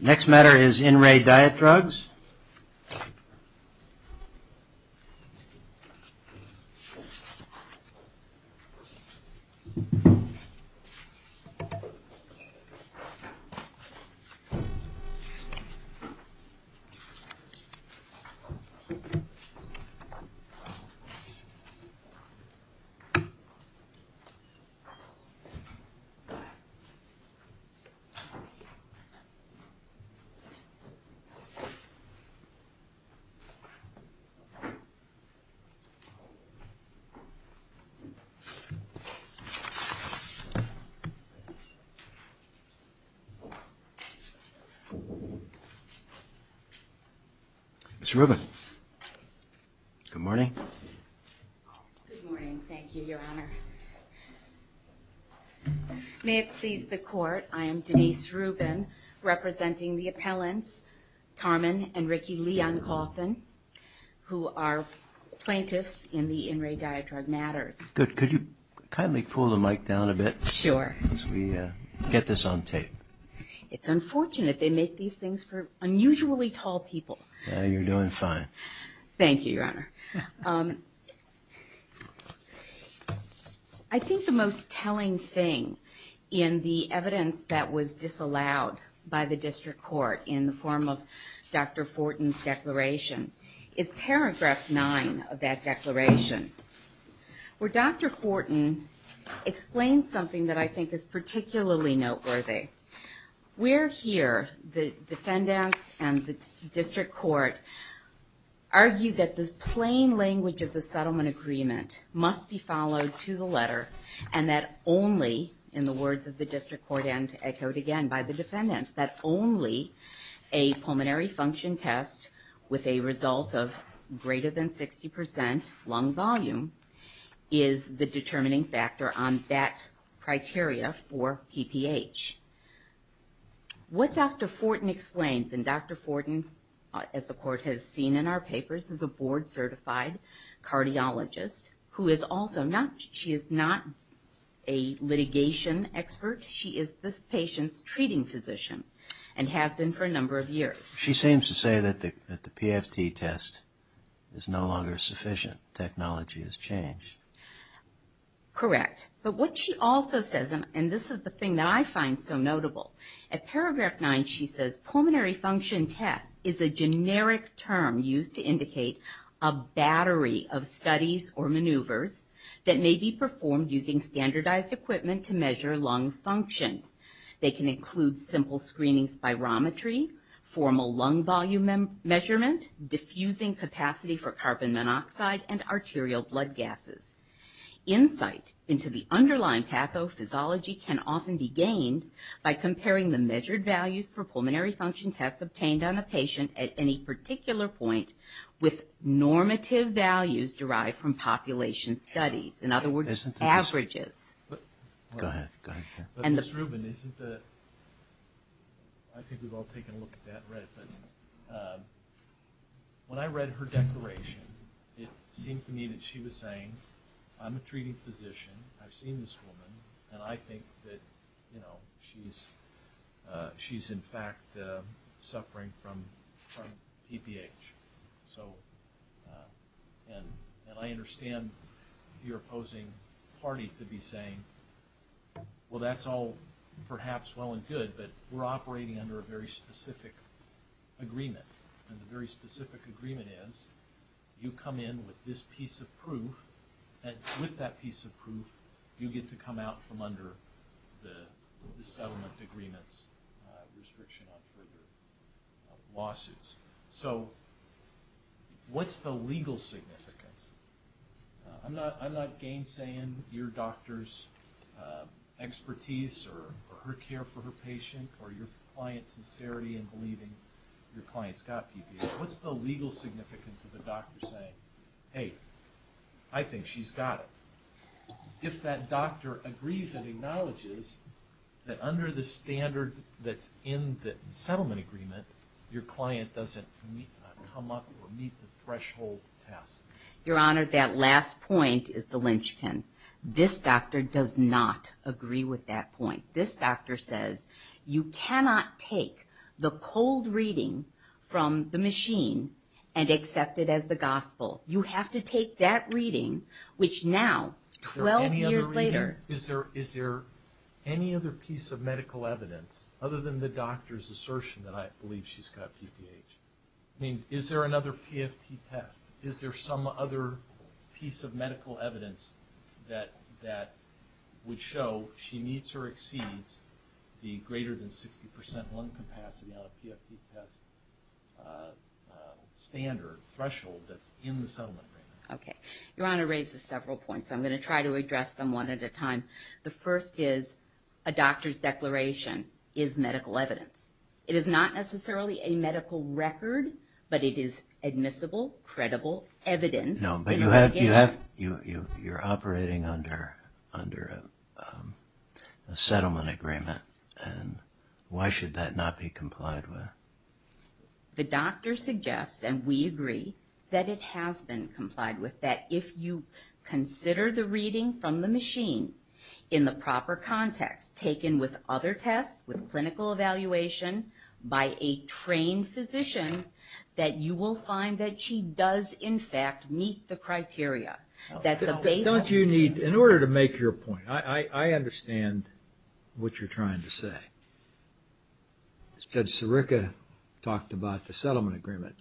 Next matter is In Re Diet Drugs. Mr. Rubin, good morning. Good morning, thank you, Your Honor. May it please the Court, I am Denise Rubin, representing the appellants, Carmen and Ricky Leon Coffin, who are plaintiffs in the In Re Diet Drug matters. Good. Could you kindly pull the mic down a bit? Sure. As we get this on tape. It's unfortunate. They make these things for unusually tall people. You're doing fine. Thank you, Your Honor. I think the most telling thing in the evidence that was disallowed by the district court in the form of Dr. Fortin's declaration is paragraph nine of that declaration, where Dr. Fortin explains something that I think is particularly noteworthy. Where here, the defendants and the district court argue that the plain language of the settlement agreement must be followed to the letter, and that only, in the words of the district court and echoed again by the defendants, that only a pulmonary function test with a result of greater than 60 percent lung volume is the determining factor on that criteria for PPH. What Dr. Fortin explains, and Dr. Fortin, as the court has seen in our papers, is a board-certified cardiologist, who is also not, she is not a litigation expert. She is this patient's treating physician, and has been for a number of years. She seems to say that the PFT test is no longer sufficient. Technology has changed. Correct. But what she also says, and this is the thing that I find so notable, at paragraph nine she says, pulmonary function test is a generic term used to indicate a battery of studies or maneuvers that may be performed using standardized equipment to measure lung function. They can include simple screening spirometry, formal lung volume measurement, diffusing capacity for carbon monoxide, and arterial blood gases. Insight into the underlying pathophysiology can often be gained by comparing the measured values for pulmonary function tests obtained on a patient at any particular point with normative values derived from population studies. In other words, averages. Go ahead. Ms. Rubin, isn't the, I think we've all taken a look at that and read it, but when I read her declaration, it seemed to me that she was saying, I'm a treating physician, I've seen this woman, and I think that she's in fact suffering from PPH. And I understand your opposing party to be saying, well, that's all perhaps well and good, but we're operating under a very specific agreement. And the very specific agreement is you come in with this piece of proof, and with that piece of proof you get to come out from under the settlement agreement's restriction on further lawsuits. So what's the legal significance? I'm not gainsaying your doctor's expertise or her care for her patient or your client's sincerity in believing your client's got PPH. What's the legal significance of the doctor saying, hey, I think she's got it? If that doctor agrees and acknowledges that under the standard that's in the settlement agreement, your client doesn't come up or meet the threshold test? Your Honor, that last point is the linchpin. This doctor does not agree with that point. This doctor says you cannot take the cold reading from the machine and accept it as the gospel. You have to take that reading, which now, 12 years later. Is there any other piece of medical evidence, other than the doctor's assertion that I believe she's got PPH? I mean, is there another PFT test? Is there some other piece of medical evidence that would show she needs or exceeds the greater than 60% lung capacity on a PFT test standard threshold that's in the settlement agreement? Okay. Your Honor raises several points. I'm going to try to address them one at a time. The first is a doctor's declaration is medical evidence. It is not necessarily a medical record, but it is admissible, credible evidence. No, but you're operating under a settlement agreement, and why should that not be complied with? The doctor suggests, and we agree, that it has been complied with, that if you consider the reading from the machine in the proper context, taken with other tests, with clinical evaluation, by a trained physician, that you will find that she does, in fact, meet the criteria. In order to make your point, I understand what you're trying to say. Judge Sirica talked about the settlement agreement.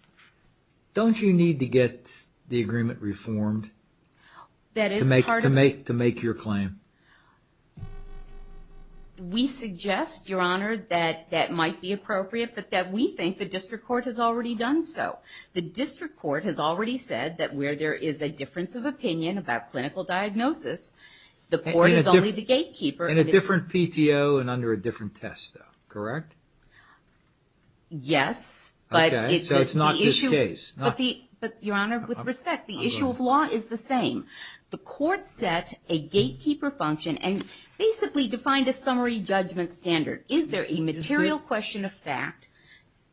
Don't you need to get the agreement reformed to make your claim? We suggest, Your Honor, that that might be appropriate, but that we think the district court has already done so. The district court has already said that where there is a difference of opinion about clinical diagnosis, the court is only the gatekeeper. In a different PTO and under a different test, though, correct? Yes, but the issue of law is the same. The court set a gatekeeper function and basically defined a summary judgment standard. Is there a material question of fact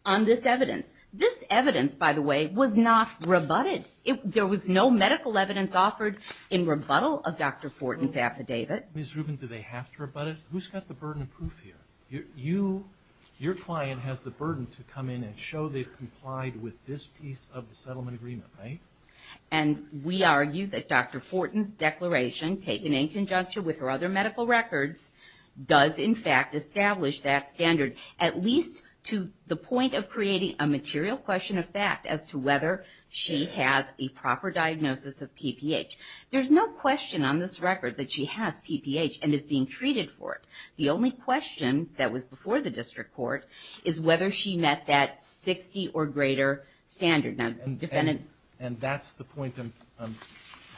on this evidence? This evidence, by the way, was not rebutted. There was no medical evidence offered in rebuttal of Dr. Fortin's affidavit. Ms. Rubin, do they have to rebut it? Who's got the burden of proof here? Your client has the burden to come in and show they've complied with this piece of the settlement agreement, right? And we argue that Dr. Fortin's declaration, taken in conjunction with her other medical records, does in fact establish that standard, at least to the point of creating a material question of fact as to whether she has a proper diagnosis of PPH. There's no question on this record that she has PPH and is being treated for it. The only question that was before the district court is whether she met that 60 or greater standard. And that's the point I'm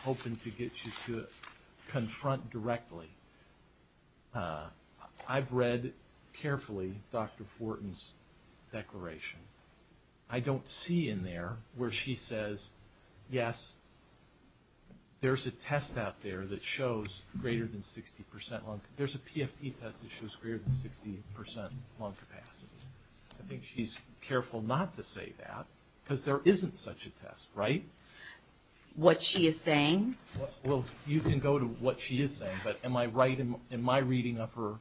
hoping to get you to confront directly. I've read carefully Dr. Fortin's declaration. I don't see in there where she says, yes, there's a test out there that shows greater than 60 percent. There's a PFT test that shows greater than 60 percent lung capacity. I think she's careful not to say that, because there isn't such a test, right? What she is saying? Well, you can go to what she is saying, but am I right in my reading of her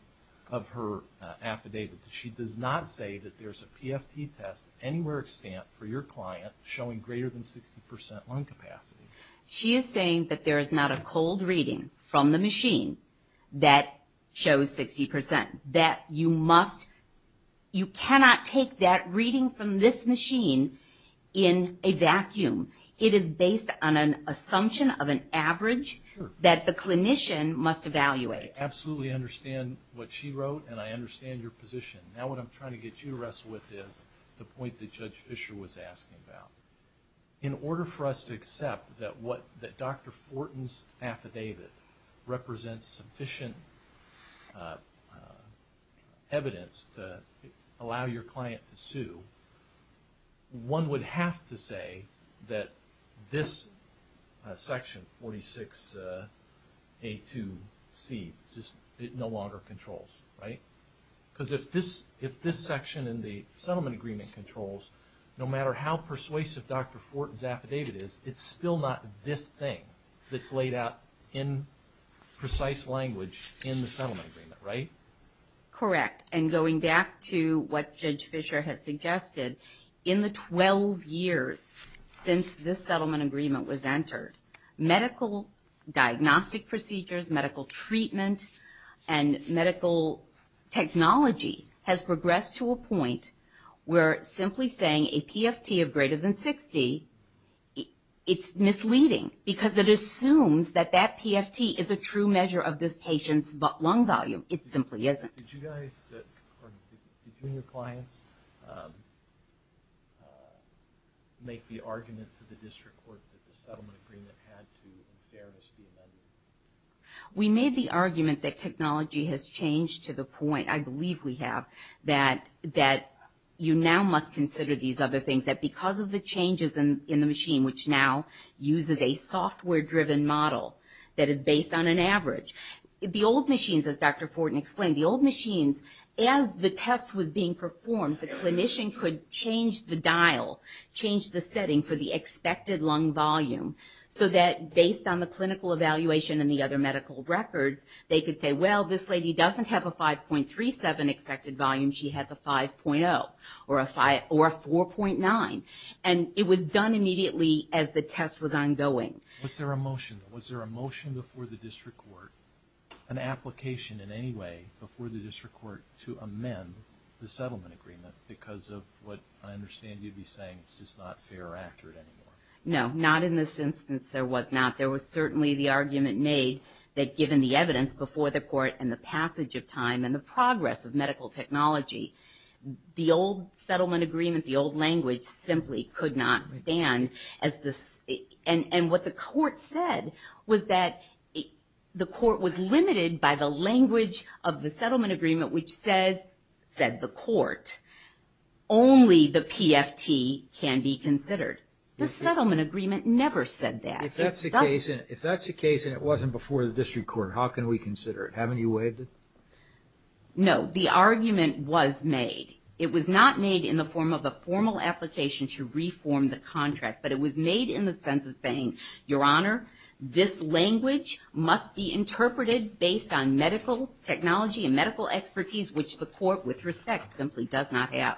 affidavit that she does not say that there's a PFT test anywhere extant for your client showing greater than 60 percent lung capacity? She is saying that there is not a cold reading from the machine that shows 60 percent. That you cannot take that reading from this machine in a vacuum. It is based on an assumption of an average that the clinician must evaluate. I absolutely understand what she wrote, and I understand your position. Now what I'm trying to get you to wrestle with is the point that Judge Fisher was asking about. In order for us to accept that Dr. Fortin's affidavit represents sufficient evidence to allow your client to sue, one would have to say that this section, 46A2C, it no longer controls, right? Because if this section in the settlement agreement controls, no matter how persuasive Dr. Fortin's affidavit is, it's still not this thing that's laid out in precise language in the settlement agreement, right? Correct. And going back to what Judge Fisher has suggested, in the 12 years since this settlement agreement was entered, medical diagnostic procedures, medical treatment, and medical technology has progressed to a point where simply saying a PFT of greater than 60, it's misleading because it assumes that that PFT is a true measure of this patient's lung volume. It simply isn't. Did you guys, or did you and your clients make the argument to the district court that the settlement agreement had to, in fairness, be amended? We made the argument that technology has changed to the point, I believe we have, that you now must consider these other things, that because of the changes in the machine, which now uses a software-driven model that is based on an average, the old machines, as Dr. Fortin explained, the old machines, as the test was being performed, the clinician could change the dial, change the setting for the expected lung volume, so that based on the clinical evaluation and the other medical records, they could say, well, this lady doesn't have a 5.37 expected volume, she has a 5.0 or a 4.9. And it was done immediately as the test was ongoing. Was there a motion before the district court, an application in any way, before the district court to amend the settlement agreement because of what I understand you'd be saying is just not fair or accurate anymore? No, not in this instance there was not. There was certainly the argument made that given the evidence before the court and the passage of time and the progress of medical technology, the old settlement agreement, the old language simply could not stand. And what the court said was that the court was limited by the language of the settlement agreement, which said, the court, only the PFT can be considered. The settlement agreement never said that. If that's the case and it wasn't before the district court, how can we consider it? Haven't you waived it? No, the argument was made. It was not made in the form of a formal application to reform the contract, but it was made in the sense of saying, Your Honor, this language must be interpreted based on medical technology and medical expertise, which the court, with respect, simply does not have.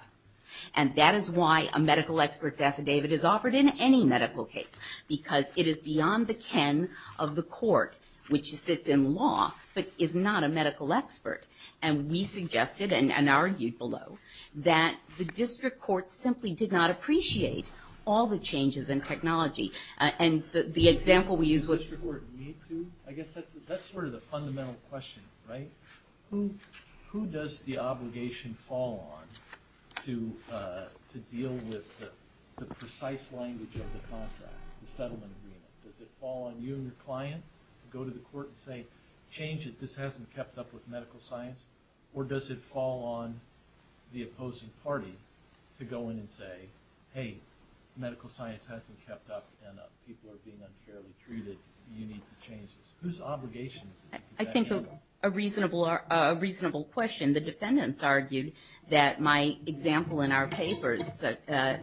And that is why a medical expert's affidavit is offered in any medical case, because it is beyond the ken of the court, which sits in law, but is not a medical expert. And we suggested and argued below that the district court simply did not appreciate all the changes in technology. And the example we used was... Does the district court need to? I guess that's sort of the fundamental question, right? Who does the obligation fall on to deal with the precise language of the contract, the settlement agreement? Does it fall on you and your client to go to the court and say, Change it, this hasn't kept up with medical science? Or does it fall on the opposing party to go in and say, Hey, medical science hasn't kept up and people are being unfairly treated. Whose obligation is it to do that? I think a reasonable question. The defendants argued that my example in our papers,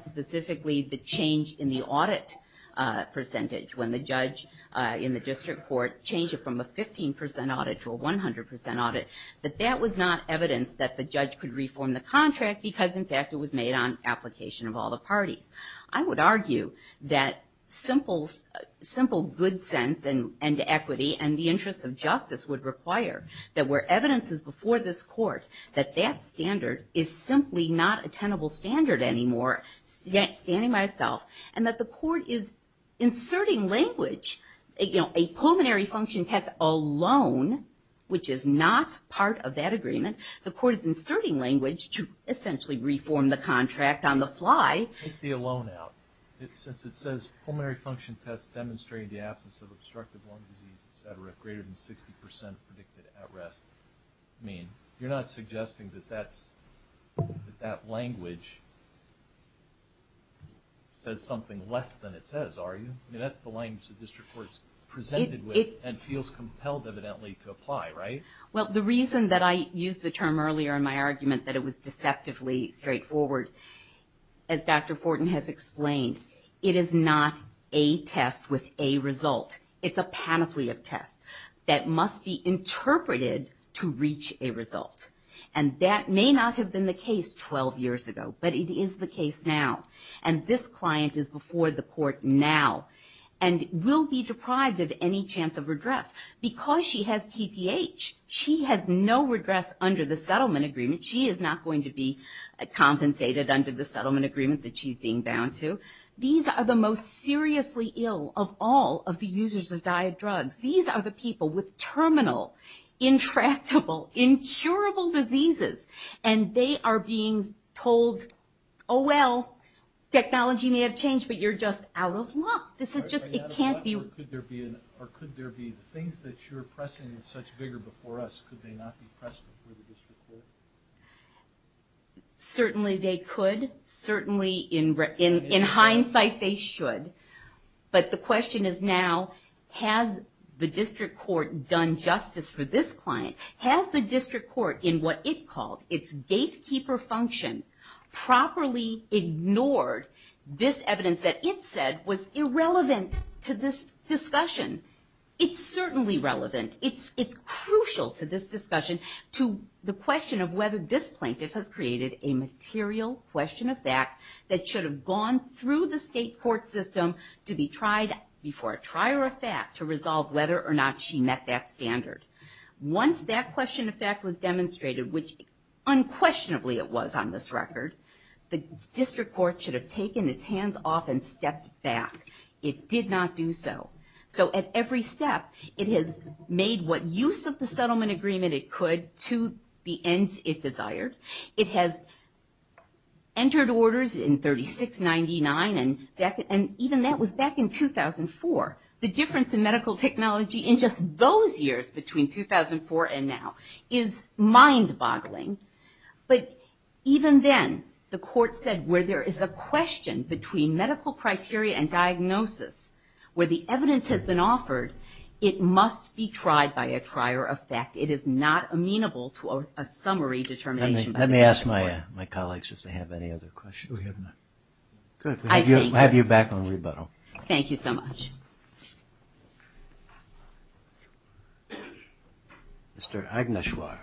specifically the change in the audit percentage, when the judge in the district court changed it from a 15% audit to a 100% audit, that that was not evidence that the judge could reform the contract, because, in fact, it was made on application of all the parties. I would argue that simple good sense and equity and the interest of justice would require that where evidence is before this court, that that standard is simply not a tenable standard anymore, standing by itself. And that the court is inserting language. A pulmonary function test alone, which is not part of that agreement, the court is inserting language to essentially reform the contract on the fly. Take the alone out. Since it says pulmonary function tests demonstrate the absence of obstructive lung disease, greater than 60% predicted at rest, you're not suggesting that that language says something less than it says, are you? That's the language the district court is presented with and feels compelled evidently to apply, right? Well, the reason that I used the term earlier in my argument that it was deceptively straightforward, as Dr. Fortin has explained, it is not a test with a result. It's a panoply of tests that must be interpreted to reach a result. And that may not have been the case 12 years ago, but it is the case now. And this client is before the court now and will be deprived of any chance of redress because she has TPH. She has no redress under the settlement agreement. She is not going to be compensated under the settlement agreement that she's being bound to. These are the most seriously ill of all of the users of diet drugs. These are the people with terminal, intractable, incurable diseases. And they are being told, oh, well, technology may have changed, but you're just out of luck. This is just, it can't be. Or could there be things that you're pressing in such vigor before us, could they not be pressed before the district court? Certainly they could. Certainly, in hindsight, they should. But the question is now, has the district court done justice for this client? Has the district court, in what it called its gatekeeper function, properly ignored this evidence that it said was irrelevant to this discussion? It's certainly relevant. It's crucial to this discussion to the question of whether this plaintiff has created a material question of fact that should have gone through the state court system to be tried before a trier of fact to resolve whether or not she met that standard. Once that question of fact was demonstrated, which unquestionably it was on this record, the district court should have taken its hands off and stepped back. It did not do so. So at every step, it has made what use of the settlement agreement it could to the ends it desired. It has entered orders in 3699, and even that was back in 2004. The difference in medical technology in just those years, between 2004 and now, is mind-boggling. But even then, the court said where there is a question between medical criteria and diagnosis, where the evidence has been offered, it must be tried by a trier of fact. It is not amenable to a summary determination by the district court. Let me ask my colleagues if they have any other questions. We have none. Good. We'll have you back on rebuttal. Thank you so much. Mr. Agneswar.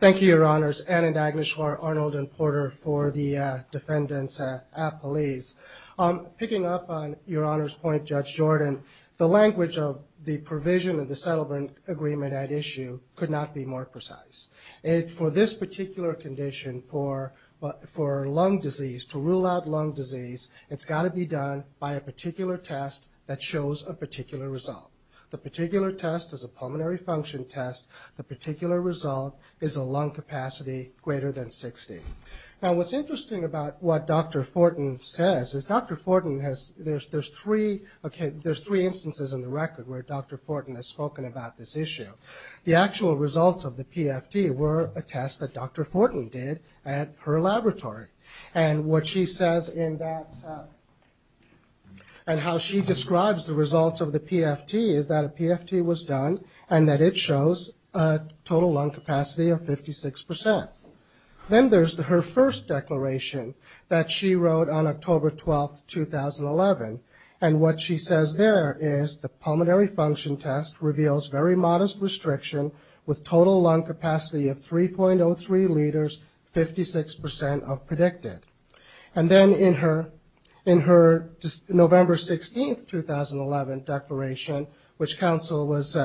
Thank you, Your Honors. Ann and Agneswar Arnold and Porter for the defendants at police. Picking up on Your Honor's point, Judge Jordan, the language of the provision of the settlement agreement at issue could not be more precise. For this particular condition, for lung disease, to rule out lung disease, it's got to be done by a particular test that shows a particular result. The particular test is a pulmonary function test. The particular result is a lung capacity greater than 60. Now, what's interesting about what Dr. Fortin says is there's three instances in the record where Dr. Fortin has spoken about this issue. The actual results of the PFT were a test that Dr. Fortin did at her laboratory, and what she says in that, and how she describes the results of the PFT is that a PFT was done and that it shows a total lung capacity of 56%. Then there's her first declaration that she wrote on October 12, 2011, and what she says there is the pulmonary function test reveals very modest restriction with total lung capacity of 3.03 liters, 56% of predicted. And then in her November 16, 2011 declaration, which counsel was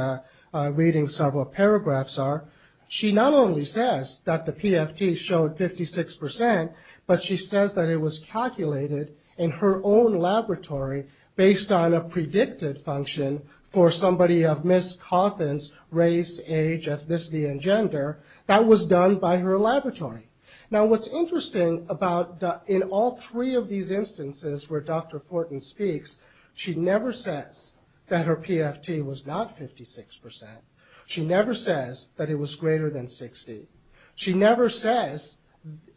reading several paragraphs of, she not only says that the PFT showed 56%, but she says that it was calculated in her own laboratory based on a predicted function for somebody of Ms. Cawthon's race, age, ethnicity, and gender. That was done by her laboratory. Now, what's interesting about in all three of these instances where Dr. Fortin speaks, she never says that her PFT was not 56%. She never says that it was greater than 60%. She never says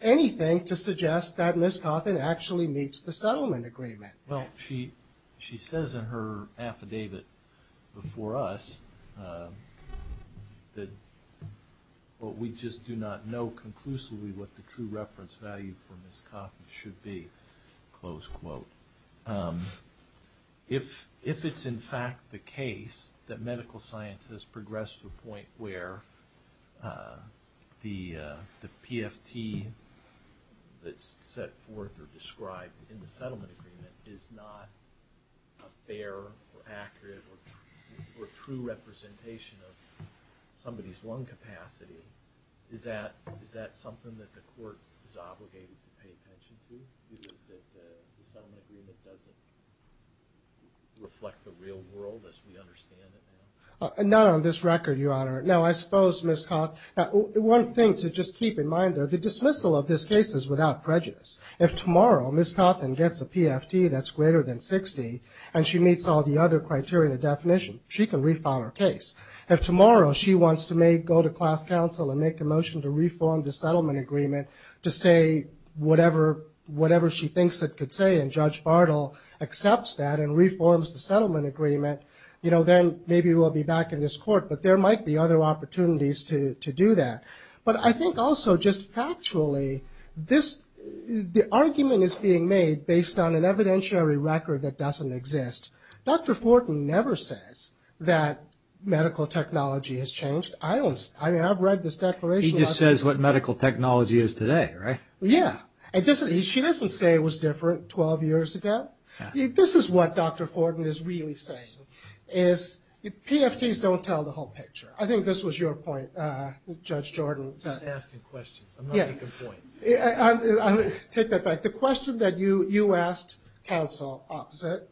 anything to suggest that Ms. Cawthon actually meets the settlement agreement. Well, she says in her affidavit before us that, well, we just do not know conclusively what the true reference value for Ms. Cawthon should be, close quote. If it's in fact the case that medical science has progressed to a point where the PFT that's set forth or described in the settlement agreement is not a fair or accurate or true representation of somebody's lung capacity, is that something that the court is obligated to pay attention to that the settlement agreement doesn't reflect the real world as we understand it now? Not on this record, Your Honor. Now, I suppose, Ms. Cawthon, one thing to just keep in mind there, the dismissal of this case is without prejudice. If tomorrow Ms. Cawthon gets a PFT that's greater than 60% and she meets all the other criteria and definition, she can refile her case. If tomorrow she wants to go to class counsel and make a motion to reform the settlement agreement to say whatever she thinks it could say and Judge Bartle accepts that and reforms the settlement agreement, then maybe we'll be back in this court. But there might be other opportunities to do that. But I think also just factually, the argument is being made based on an evidentiary record that doesn't exist. Dr. Fortin never says that medical technology has changed. I mean, I've read this declaration. She just says what medical technology is today, right? Yeah. She doesn't say it was different 12 years ago. This is what Dr. Fortin is really saying, is PFTs don't tell the whole picture. I think this was your point, Judge Jordan. I'm just asking questions. I'm not making points. Take that back. The question that you asked counsel opposite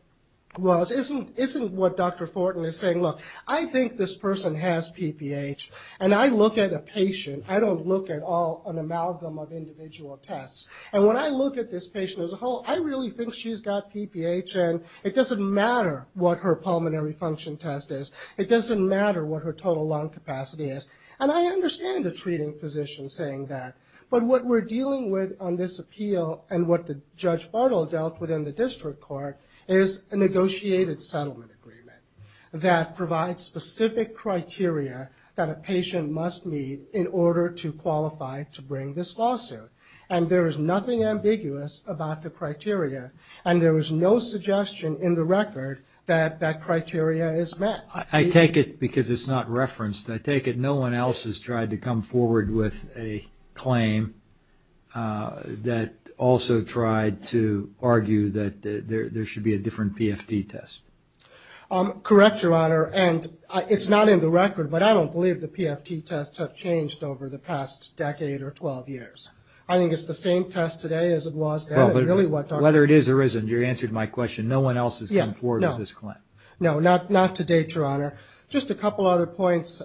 wasn't what Dr. Fortin is saying. Look, I think this person has PPH, and I look at a patient. I don't look at all an amalgam of individual tests. And when I look at this patient as a whole, I really think she's got PPH, and it doesn't matter what her pulmonary function test is. It doesn't matter what her total lung capacity is. And I understand a treating physician saying that, but what we're dealing with on this appeal and what Judge Bartle dealt with in the district court is a negotiated settlement agreement that provides specific criteria that a patient must meet in order to qualify to bring this lawsuit. And there is nothing ambiguous about the criteria, and there is no suggestion in the record that that criteria is met. I take it, because it's not referenced, I take it no one else has tried to come forward with a claim that also tried to argue that there should be a different PFT test. Correct, Your Honor, and it's not in the record, but I don't believe the PFT tests have changed over the past decade or 12 years. I think it's the same test today as it was then. Whether it is or isn't, you answered my question, no one else has come forward with this claim. No, not to date, Your Honor. Just a couple other points.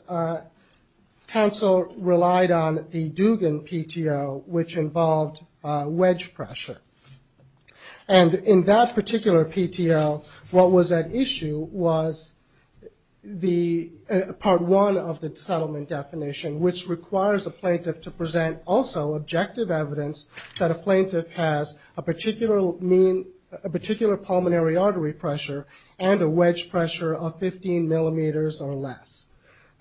Counsel relied on the Dugan PTO, which involved wedge pressure. And in that particular PTO, what was at issue was the part one of the settlement definition, which requires a plaintiff to present also objective evidence that a plaintiff has a particular mean, a particular pulmonary artery pressure and a wedge pressure of 15 millimeters or less.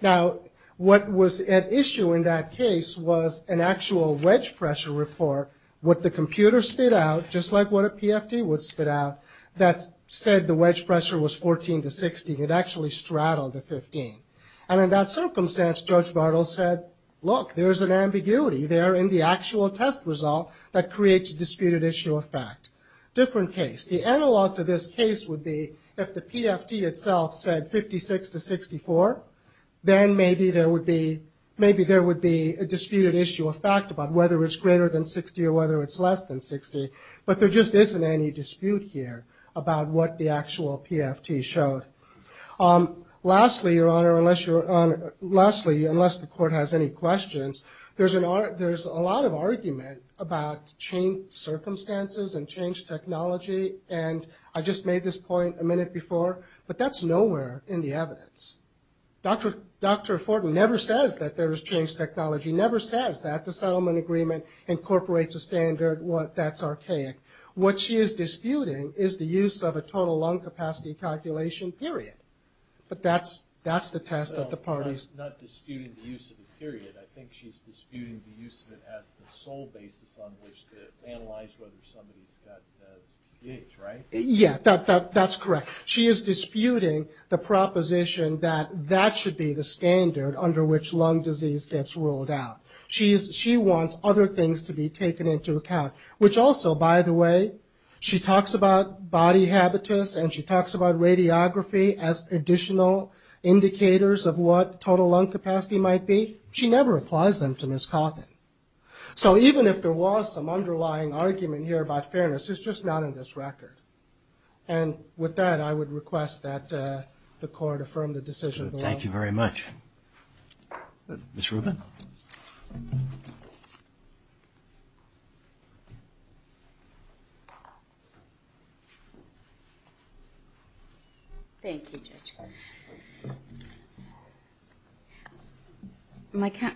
Now, what was at issue in that case was an actual wedge pressure report. What the computer spit out, just like what a PFT would spit out, that said the wedge pressure was 14 to 16, it actually straddled the 15. And in that circumstance, Judge Bartle said, look, there's an ambiguity there in the actual test result that creates a disputed issue of fact. Different case. The analog to this case would be if the PFT itself said 56 to 64, then maybe there would be a disputed issue of fact about whether it's greater than 60 or whether it's less than 60. But there just isn't any dispute here about what the actual PFT showed. Lastly, Your Honor, unless the court has any questions, there's a lot of argument about changed circumstances and changed technology. And I just made this point a minute before, but that's nowhere in the evidence. Dr. Fortin never says that there is changed technology, never says that the settlement agreement incorporates a standard. That's archaic. What she is disputing is the use of a total lung capacity calculation period. But that's the test that the parties. Not disputing the use of the period. I think she's disputing the use of it as the sole basis on which to analyze whether somebody's got SPH, right? Yeah, that's correct. She is disputing the proposition that that should be the standard under which lung disease gets ruled out. She wants other things to be taken into account, which also, by the way, she talks about body habitus and she talks about radiography as additional indicators of what total lung capacity might be. She never applies them to Ms. Cawthon. So even if there was some underlying argument here about fairness, it's just not in this record. And with that, I would request that the court affirm the decision below. Thank you very much. Ms. Rubin? Thank you, Judge.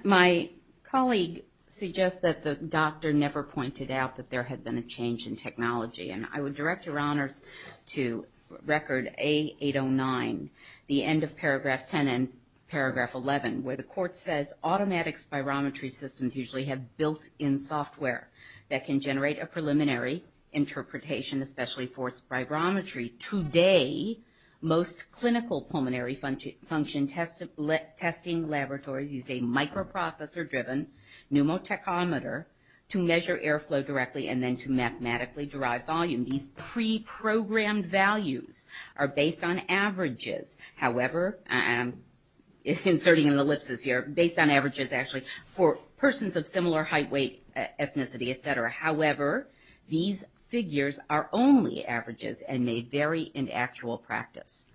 My colleague suggests that the doctor never pointed out that there had been a change in technology. And I would direct your honors to record A809, the end of paragraph 10 and paragraph 11, where the court says automatic spirometry systems usually have built-in software that can generate a preliminary interpretation, especially for spirometry. Today, most clinical pulmonary function testing laboratories use a microprocessor-driven pneumotachometer to measure airflow directly and then to mathematically derive volume. These pre-programmed values are based on averages. However, I'm inserting an ellipsis here, based on averages actually, for persons of similar height, weight, ethnicity, et cetera. However, these figures are only averages and may vary in actual practice.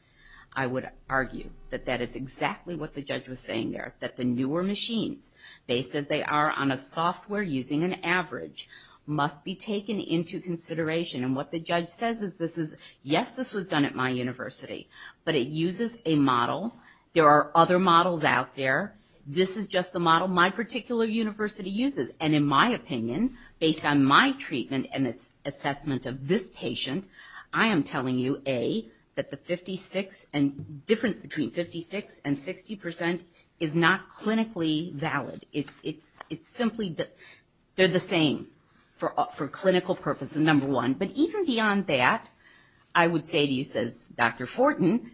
I would argue that that is exactly what the judge was saying there, that the newer machines, based as they are on a software using an average, must be taken into consideration. And what the judge says is this is, yes, this was done at my university, but it uses a model. There are other models out there. This is just the model my particular university uses. And in my opinion, based on my treatment and its assessment of this patient, I am telling you, A, that the difference between 56% and 60% is not clinically valid. It's simply that they're the same for clinical purposes, number one. But even beyond that, I would say to you, says Dr. Fortin,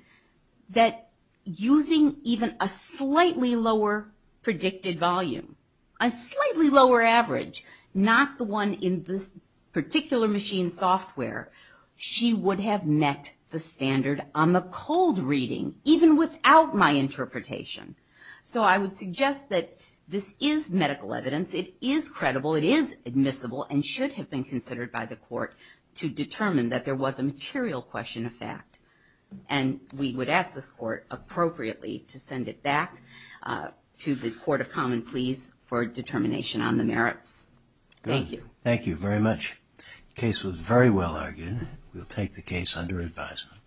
that using even a slightly lower predicted volume, a slightly lower average, not the one in this particular machine software, she would have met the standard on the cold reading, even without my interpretation. So I would suggest that this is medical evidence. It is credible. It is admissible and should have been considered by the court to determine that there was a material question of fact. And we would ask this court, appropriately, to send it back to the Court of Common Pleas for determination on the merits. Thank you. Thank you very much. The case was very well argued. We'll take the case under advisement.